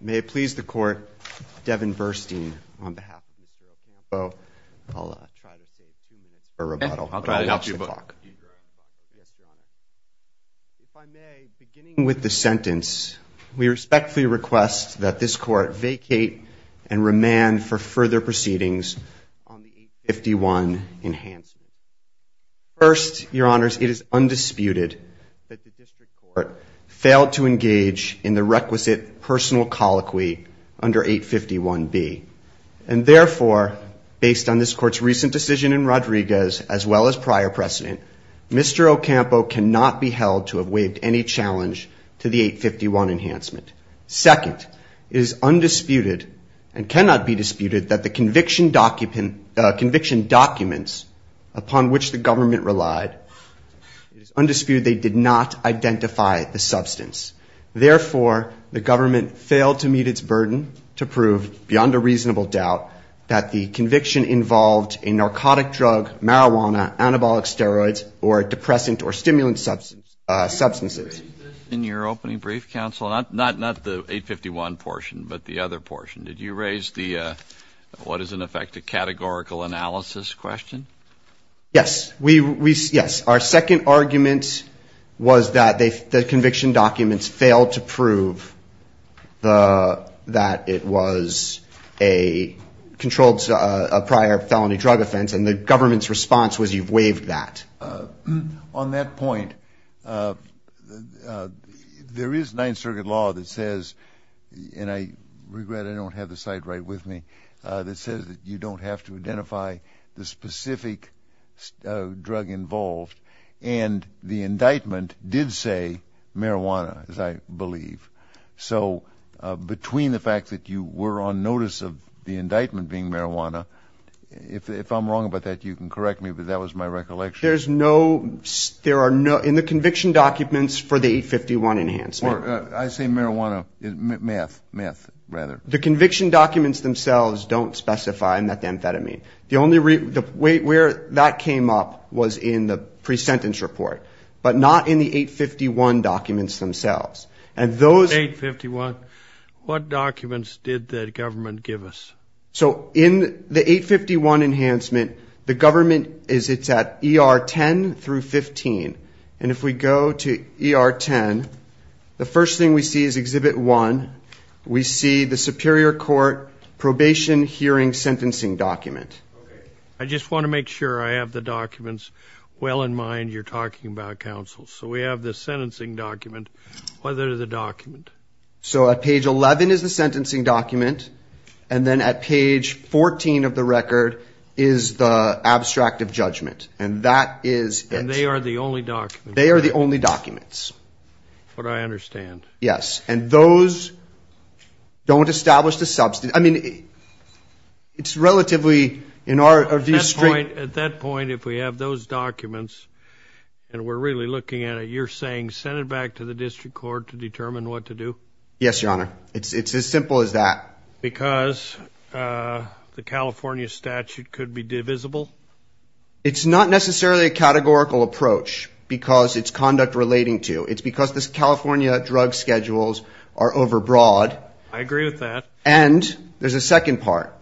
May it please the court, Devin Versteen on behalf of Luis Ocampo-Estrada, I'll try to save two minutes for rebuttal. If I may, beginning with the sentence, we respectfully request that this court vacate and remand for further proceedings on the 851 enhancement. First, your honors, it is undisputed that the district court failed to engage in the requisite personal colloquy under 851B. And therefore, based on this court's recent decision in Rodriguez, as well as prior precedent, Mr. Ocampo cannot be held to have waived any challenge to the 851 enhancement. Second, it is undisputed and cannot be disputed that the conviction documents upon which the government relied, it is undisputed they did not identify the substance. Therefore, the government failed to meet its burden to prove beyond a reasonable doubt that the conviction involved a narcotic drug, marijuana, anabolic steroids, or depressant or stimulant substances. In your opening brief, counsel, not the 851 portion, but the other portion, did you raise the what is in effect a categorical analysis question? Yes. Yes. Our second argument was that the conviction documents failed to prove that it was a controlled prior felony drug offense, and the government's response was you've waived that. On that point, there is Ninth Circuit law that says, and I regret I don't have the site right with me, that says that you don't have to identify the specific drug involved. And the indictment did say marijuana, as I believe. So between the fact that you were on notice of the indictment being marijuana, if I'm wrong about that, you can correct me, but that was my recollection. There's no, there are no, in the conviction documents for the 851 enhancement. I say marijuana, meth, meth rather. The conviction documents themselves don't specify methamphetamine. The only, where that came up was in the pre-sentence report, but not in the 851 documents themselves. And those 851, what documents did the government give us? So in the 851 enhancement, the government is, it's at ER 10 through 15. And if we go to ER 10, the first thing we see is Exhibit 1. We see the Superior Court probation hearing sentencing document. I just want to make sure I have the documents well in mind. You're talking about counsel. So we have the sentencing document. What is the document? So at page 11 is the sentencing document. And then at page 14 of the record is the abstract of judgment. And that is it. And they are the only documents. They are the only documents. That's what I understand. Yes. And those don't establish the substance. I mean, it's relatively, in our view, straight. At that point, if we have those documents and we're really looking at it, you're saying send it back to the district court to determine what to do? Yes, Your Honor. It's as simple as that. Because the California statute could be divisible? It's not necessarily a categorical approach because it's conduct relating to. It's because the California drug schedules are overbroad. I agree with that. And there's a second part.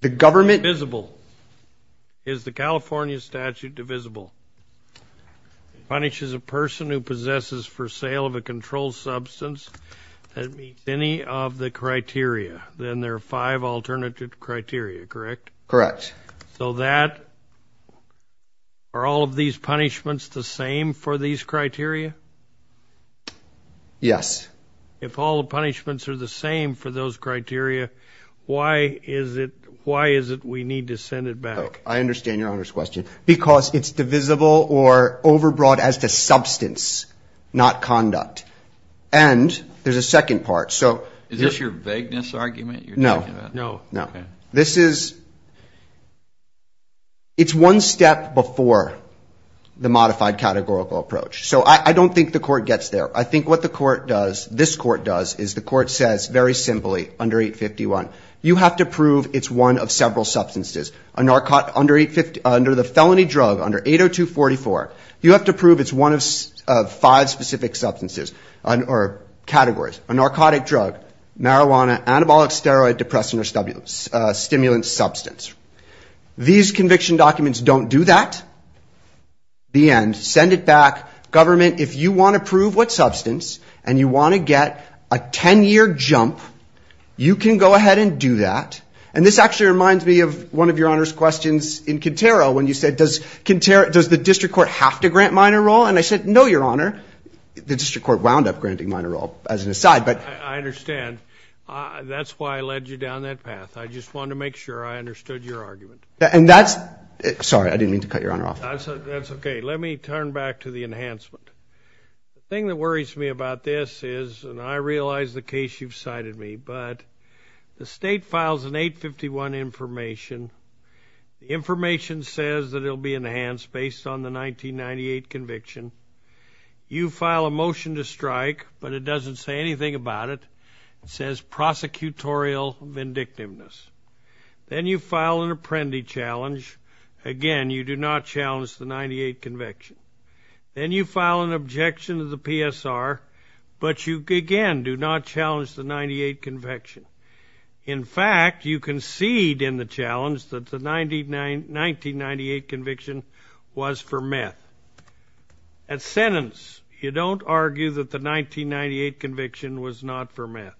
The government. Divisible. Is the California statute divisible? It punishes a person who possesses for sale of a controlled substance that meets any of the criteria. Then there are five alternative criteria, correct? Correct. So that, are all of these punishments the same for these criteria? Yes. If all the punishments are the same for those criteria, why is it we need to send it back? I understand Your Honor's question. Because it's divisible or overbroad as to substance, not conduct. And there's a second part. Is this your vagueness argument you're talking about? No. No. Okay. This is, it's one step before the modified categorical approach. So I don't think the court gets there. I think what the court does, this court does, is the court says very simply under 851, you have to prove it's one of several substances. Under the felony drug, under 80244, you have to prove it's one of five specific substances or categories. A narcotic drug, marijuana, anabolic steroid, depressant, or stimulant substance. These conviction documents don't do that. The end. Send it back. Government, if you want to prove what substance and you want to get a 10-year jump, you can go ahead and do that. And this actually reminds me of one of Your Honor's questions in Quintero when you said, does Quintero, does the district court have to grant minor role? And I said, no, Your Honor. The district court wound up granting minor role as an aside. I understand. That's why I led you down that path. I just wanted to make sure I understood your argument. And that's, sorry, I didn't mean to cut Your Honor off. That's okay. Let me turn back to the enhancement. The thing that worries me about this is, and I realize the case you've cited me, but the state files an 851 information. The information says that it will be enhanced based on the 1998 conviction. You file a motion to strike, but it doesn't say anything about it. It says prosecutorial vindictiveness. Then you file an apprendi challenge. Again, you do not challenge the 1998 conviction. Then you file an objection to the PSR, but you, again, do not challenge the 1998 conviction. In fact, you concede in the challenge that the 1998 conviction was for meth. At sentence, you don't argue that the 1998 conviction was not for meth.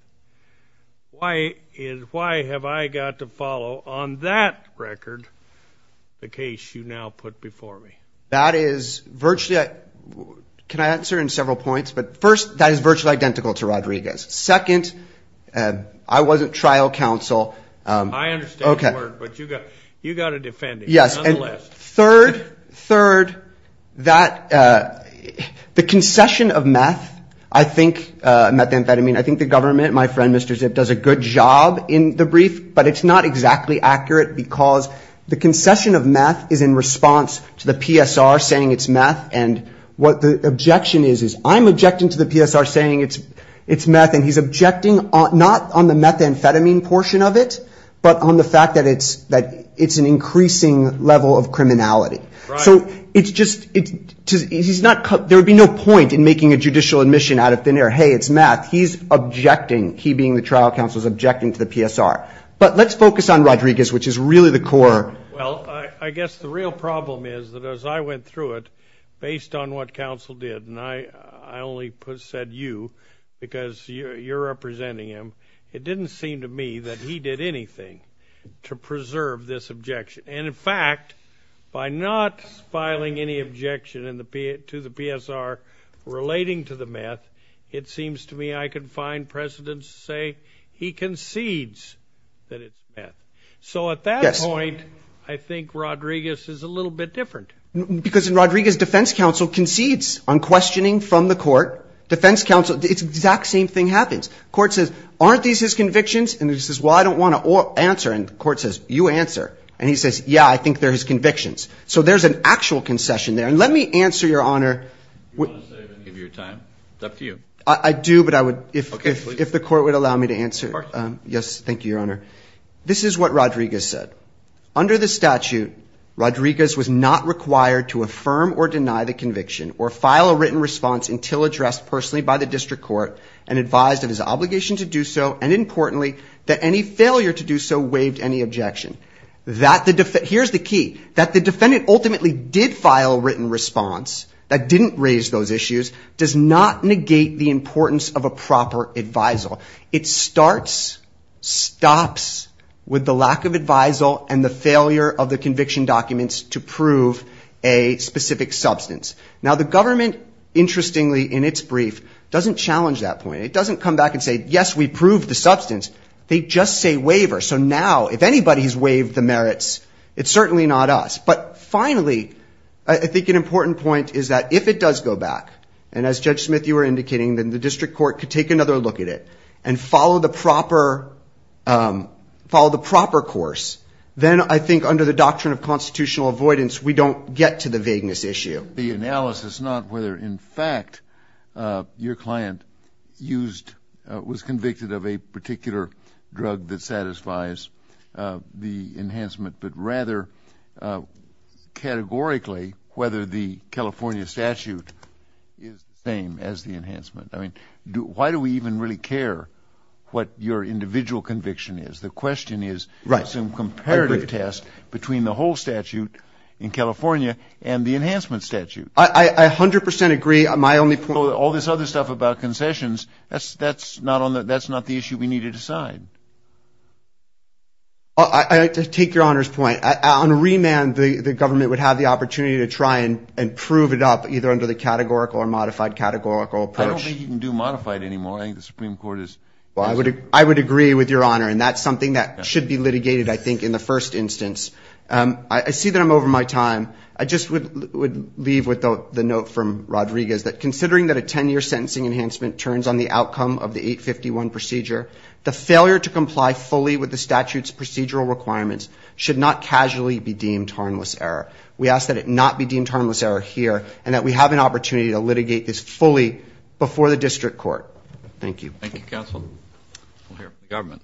Why have I got to follow on that record? The case you now put before me. That is virtually, can I answer in several points? First, that is virtually identical to Rodriguez. Second, I wasn't trial counsel. I understand the word, but you've got to defend it. Third, the concession of meth, I think, methamphetamine, I think the government, my friend, Mr. Zipp, does a good job in the brief, but it's not exactly accurate because the concession of meth is in response to the PSR saying it's meth, and what the objection is is I'm objecting to the PSR saying it's meth, and he's objecting not on the methamphetamine portion of it, but on the fact that it's an increasing level of criminality. So it's just, there would be no point in making a judicial admission out of thin air. Hey, it's meth. He's objecting, he being the trial counsel, is objecting to the PSR. But let's focus on Rodriguez, which is really the core. Well, I guess the real problem is that as I went through it, based on what counsel did, and I only said you because you're representing him, it didn't seem to me that he did anything to preserve this objection. And, in fact, by not filing any objection to the PSR relating to the meth, it seems to me I can find precedence to say he concedes that it's meth. So at that point, I think Rodriguez is a little bit different. Because in Rodriguez, defense counsel concedes on questioning from the court. Defense counsel, the exact same thing happens. The court says, aren't these his convictions? And he says, well, I don't want to answer. And the court says, you answer. And he says, yeah, I think they're his convictions. So there's an actual concession there. And let me answer, Your Honor. Do you want to save any of your time? It's up to you. I do, but I would, if the court would allow me to answer. Of course. Yes, thank you, Your Honor. This is what Rodriguez said. Under the statute, Rodriguez was not required to affirm or deny the conviction or file a written response until addressed personally by the district court and advised of his obligation to do so and, importantly, that any failure to do so waived any objection. Here's the key. That the defendant ultimately did file a written response, that didn't raise those issues, does not negate the importance of a proper advisal. It starts, stops with the lack of advisal and the failure of the conviction documents to prove a specific substance. Now, the government, interestingly, in its brief, doesn't challenge that point. It doesn't come back and say, yes, we proved the substance. They just say waiver. So now, if anybody's waived the merits, it's certainly not us. But finally, I think an important point is that if it does go back, and as Judge Smith, you were indicating, then the district court could take another look at it and follow the proper course, then I think under the doctrine of constitutional avoidance, we don't get to the vagueness issue. The analysis, not whether, in fact, your client used, was convicted of a particular drug that satisfies the enhancement, but rather categorically whether the California statute is the same as the enhancement. I mean, why do we even really care what your individual conviction is? The question is some comparative test between the whole statute in California and the enhancement statute. I 100% agree. All this other stuff about concessions, that's not the issue we need to decide. I'll take your Honor's point. On remand, the government would have the opportunity to try and prove it up, either under the categorical or modified categorical approach. I don't think you can do modified anymore. I think the Supreme Court is. I would agree with your Honor, and that's something that should be litigated, I think, in the first instance. I see that I'm over my time. I just would leave with the note from Rodriguez that considering that a 10-year sentencing enhancement turns on the outcome of the 851 procedure, the failure to comply fully with the statute's procedural requirements should not casually be deemed harmless error. We ask that it not be deemed harmless error here and that we have an opportunity to litigate this fully before the district court. Thank you. Thank you, counsel. We'll hear from the government.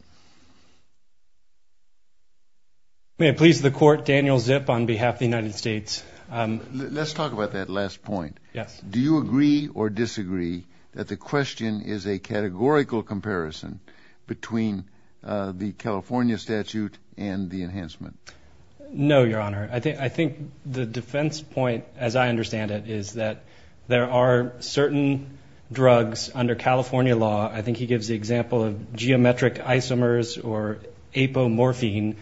May it please the Court, Daniel Zip on behalf of the United States. Let's talk about that last point. Yes. Do you agree or disagree that the question is a categorical comparison between the California statute and the enhancement? No, Your Honor. I think the defense point, as I understand it, is that there are certain drugs under California law. I think he gives the example of geometric isomers or apomorphine,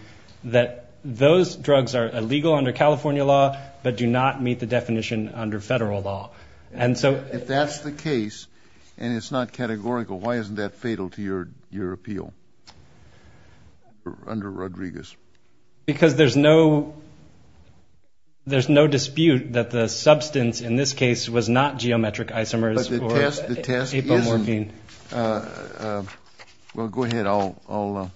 that those drugs are illegal under California law but do not meet the definition under federal law. If that's the case and it's not categorical, why isn't that fatal to your appeal under Rodriguez? Because there's no dispute that the substance in this case was not geometric isomers or apomorphine. Well, go ahead. I'll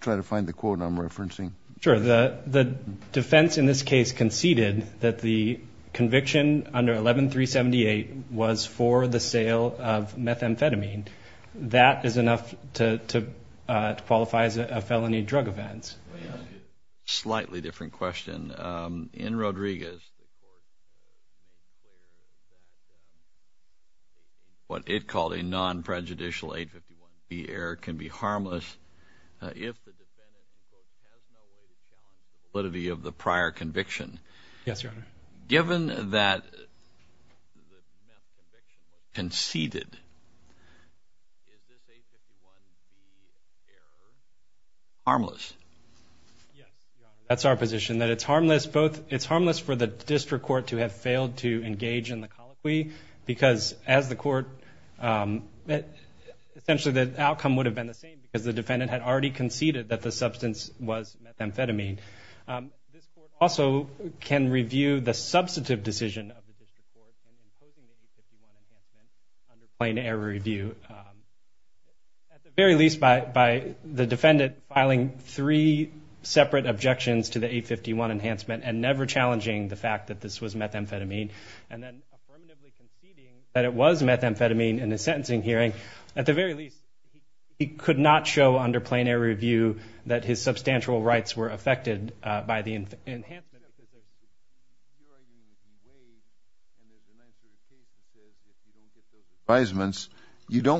try to find the quote I'm referencing. Sure. The defense in this case conceded that the conviction under 11378 was for the sale of methamphetamine. That is enough to qualify as a felony drug offense. Slightly different question. In Rodriguez, what it called a non-prejudicial 851c error can be harmless if the defendant has no evidence of the validity of the prior conviction. Yes, Your Honor. Given that conceded, is this 851c error harmless? Yes, Your Honor. That's our position, that it's harmless for the district court to have failed to engage in the colloquy because, as the court, essentially the outcome would have been the same because the defendant had already conceded that the substance was methamphetamine. This court also can review the substantive decision of the district court on imposing 851c under plain error review. At the very least, by the defendant filing three separate objections to the 851 enhancement and never challenging the fact that this was methamphetamine and then affirmatively conceding that it was methamphetamine in his sentencing hearing, at the very least, he could not show under plain error review that his substantial rights were affected by the enhancement. Yes, Your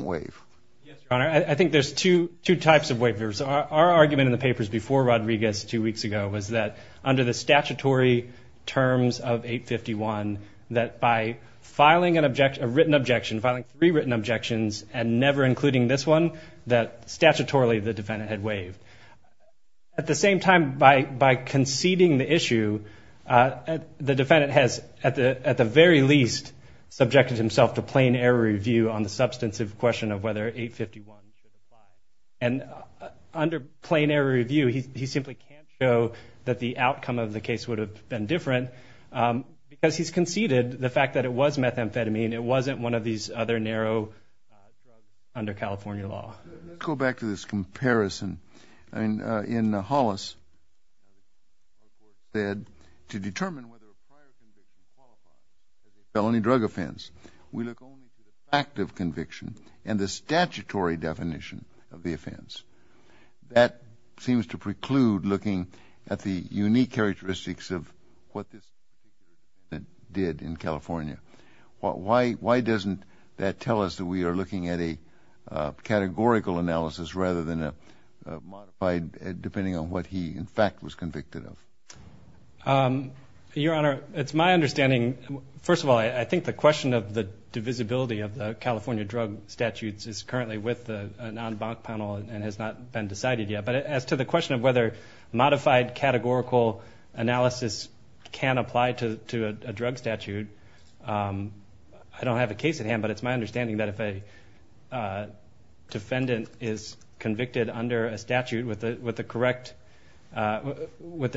Honor. I think there's two types of waivers. Our argument in the papers before Rodriguez two weeks ago was that under the statutory terms of 851, that by filing a written objection, filing three written objections, and never including this one, that statutorily the defendant had waived. At the same time, by conceding the issue, the defendant has, at the very least, subjected himself to plain error review on the substantive question of whether 851 is methamphetamine. And under plain error review, he simply can't show that the outcome of the case would have been different because he's conceded the fact that it was methamphetamine. It wasn't one of these other narrow drugs under California law. Let's go back to this comparison. In Hollis, to determine whether a prior conviction qualifies as a felony drug offense, we look only at the fact of conviction and the statutory definition of the offense. That seems to preclude looking at the unique characteristics of what this defendant did in California. Why doesn't that tell us that we are looking at a categorical analysis rather than a modified, depending on what he, in fact, was convicted of? Your Honor, it's my understanding, first of all, I think the question of the divisibility of the California drug statutes is currently with a non-bank panel and has not been decided yet. But as to the question of whether modified categorical analysis can apply to a drug statute, I don't have a case at hand, but it's my understanding that if a defendant is convicted under a statute with the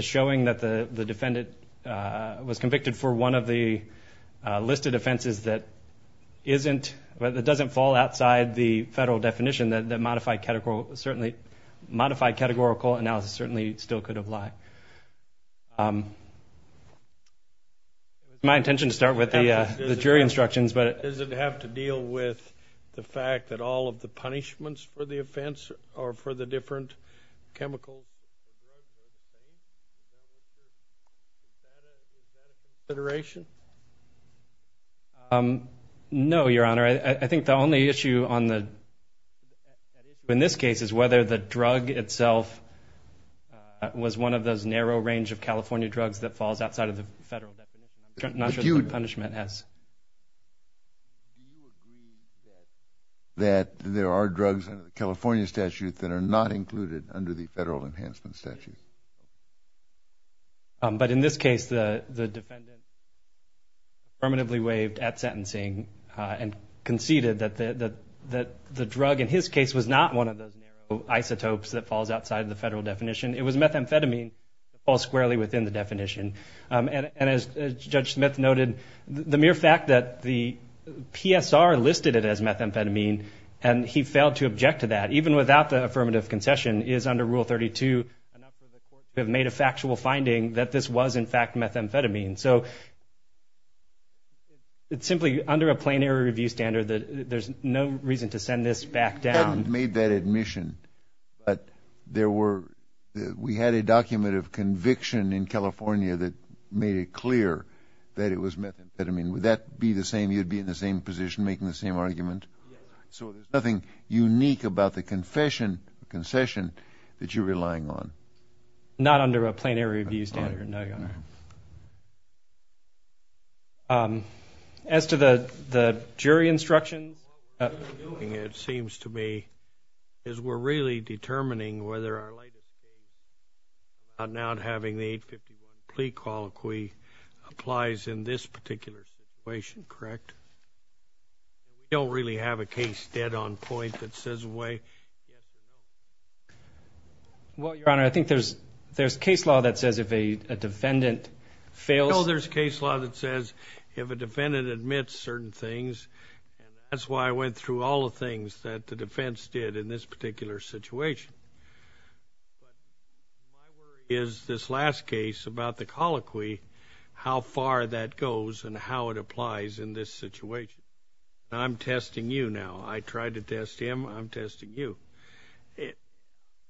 showing that the defendant was convicted for one of the listed offenses that doesn't fall outside the federal definition, that modified categorical analysis certainly still could apply. It's my intention to start with the jury instructions. Does it have to deal with the fact that all of the punishments for the offense are for the different chemicals? Is that a consideration? No, Your Honor. I think the only issue in this case is whether the drug itself was one of those narrow range of California drugs that falls outside of the federal definition, not just the punishment S. Do you agree that there are drugs in the California statute that are not included under the federal enhancement statute? But in this case, the defendant affirmatively waived at sentencing and conceded that the drug in his case was not one of those narrow isotopes that falls outside the federal definition. It was methamphetamine that falls squarely within the definition. And as Judge Smith noted, the mere fact that the PSR listed it as methamphetamine and he failed to object to that, even without the affirmative concession, is under Rule 32 enough for the court to have made a factual finding that this was, in fact, methamphetamine. So it's simply under a plain error review standard that there's no reason to send this back down. You made that admission, but we had a document of conviction in California that made it clear that it was methamphetamine. Would that be the same? You'd be in the same position making the same argument? Yes. So there's nothing unique about the concession that you're relying on? As to the jury instructions, what we're doing, it seems to me, is we're really determining whether or not having the 851 plea colloquy applies in this particular situation, correct? We don't really have a case dead on point that says a way. Well, Your Honor, I think there's case law that says if a defendant fails. No, there's case law that says if a defendant admits certain things, and that's why I went through all the things that the defense did in this particular situation. But my worry is this last case about the colloquy, how far that goes and how it applies in this situation. I'm testing you now. I tried to test him. I'm testing you.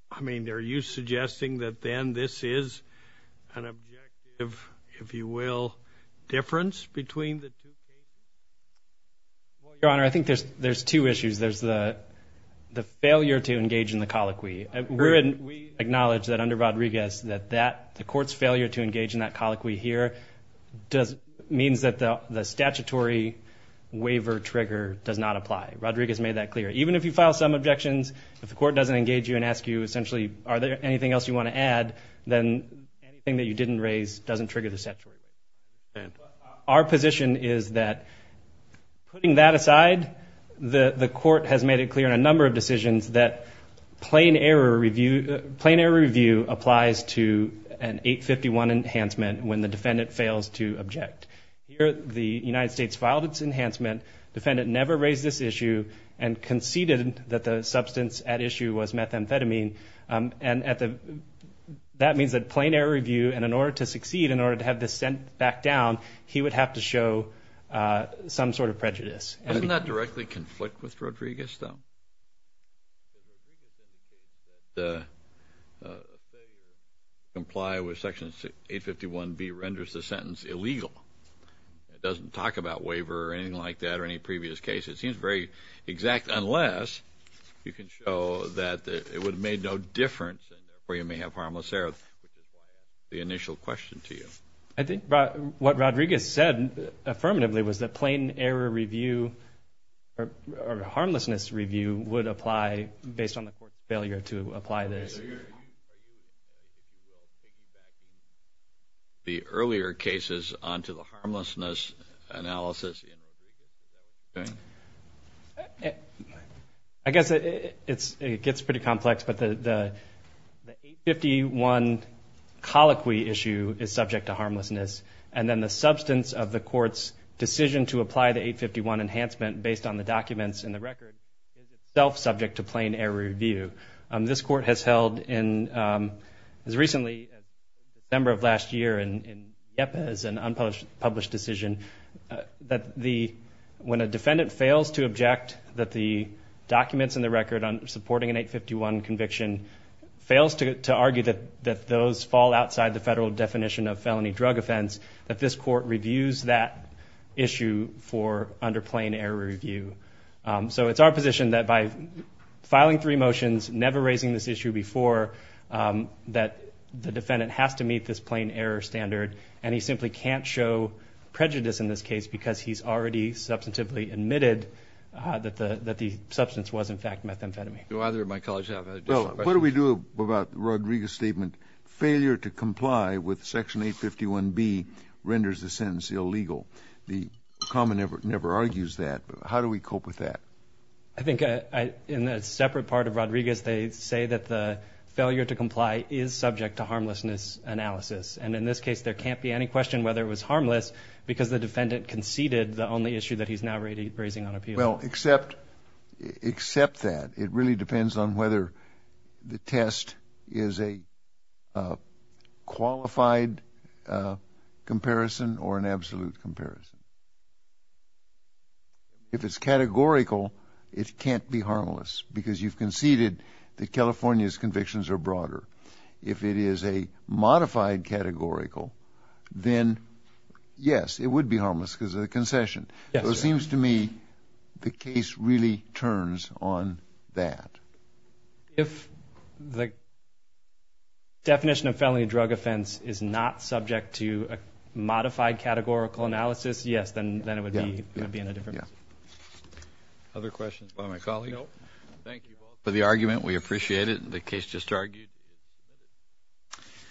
I mean, are you suggesting that then this is an objective, if you will, difference between the two cases? Well, Your Honor, I think there's two issues. There's the failure to engage in the colloquy. We acknowledge that under Rodriguez that the court's failure to engage in that colloquy here means that the statutory waiver trigger does not apply. Rodriguez made that clear. Even if you file some objections, if the court doesn't engage you and ask you essentially are there anything else you want to add, then anything that you didn't raise doesn't trigger the statutory waiver. Our position is that putting that aside, the court has made it clear in a number of decisions that plain error review applies to an 851 enhancement when the defendant fails to object. Here the United States filed its enhancement. The defendant never raised this issue and conceded that the substance at issue was methamphetamine. And that means that plain error review, and in order to succeed, in order to have this sent back down, he would have to show some sort of prejudice. Doesn't that directly conflict with Rodriguez though? Comply with Section 851B renders the sentence illegal. It doesn't talk about waiver or anything like that or any previous case. It seems very exact unless you can show that it would have made no difference or you may have harmless error. The initial question to you. I think what Rodriguez said affirmatively was that plain error review or harmlessness review would apply based on the court's failure to apply this. Are you going to take back the earlier cases onto the harmlessness analysis? I guess it gets pretty complex, but the 851 colloquy issue is subject to harmlessness, and then the substance of the court's decision to apply the 851 enhancement based on the documents in the record is itself subject to plain error review. This court has held, as recently as December of last year, in IEPA as an unpublished decision that when a defendant fails to object that the documents in the record supporting an 851 conviction fails to argue that those fall outside the federal definition of felony drug offense, that this court reviews that issue for under plain error review. So it's our position that by filing three motions, never raising this issue before, that the defendant has to meet this plain error standard, and he simply can't show prejudice in this case because he's already substantively admitted that the substance was, in fact, methamphetamine. Do either of my colleagues have additional questions? What do we do about Rodriguez's statement, failure to comply with Section 851B renders the sentence illegal? The common never argues that, but how do we cope with that? I think in a separate part of Rodriguez, they say that the failure to comply is subject to harmlessness analysis, and in this case there can't be any question whether it was harmless because the defendant conceded the only issue that he's now raising on appeal. Well, except that. It really depends on whether the test is a qualified comparison or an absolute comparison. If it's categorical, it can't be harmless because you've conceded that California's convictions are broader. If it is a modified categorical, then, yes, it would be harmless because of the concession. So it seems to me the case really turns on that. If the definition of felony drug offense is not subject to a modified categorical analysis, yes, then it would be in a different place. Other questions by my colleague? No. Thank you both for the argument. We appreciate it. The case just argued.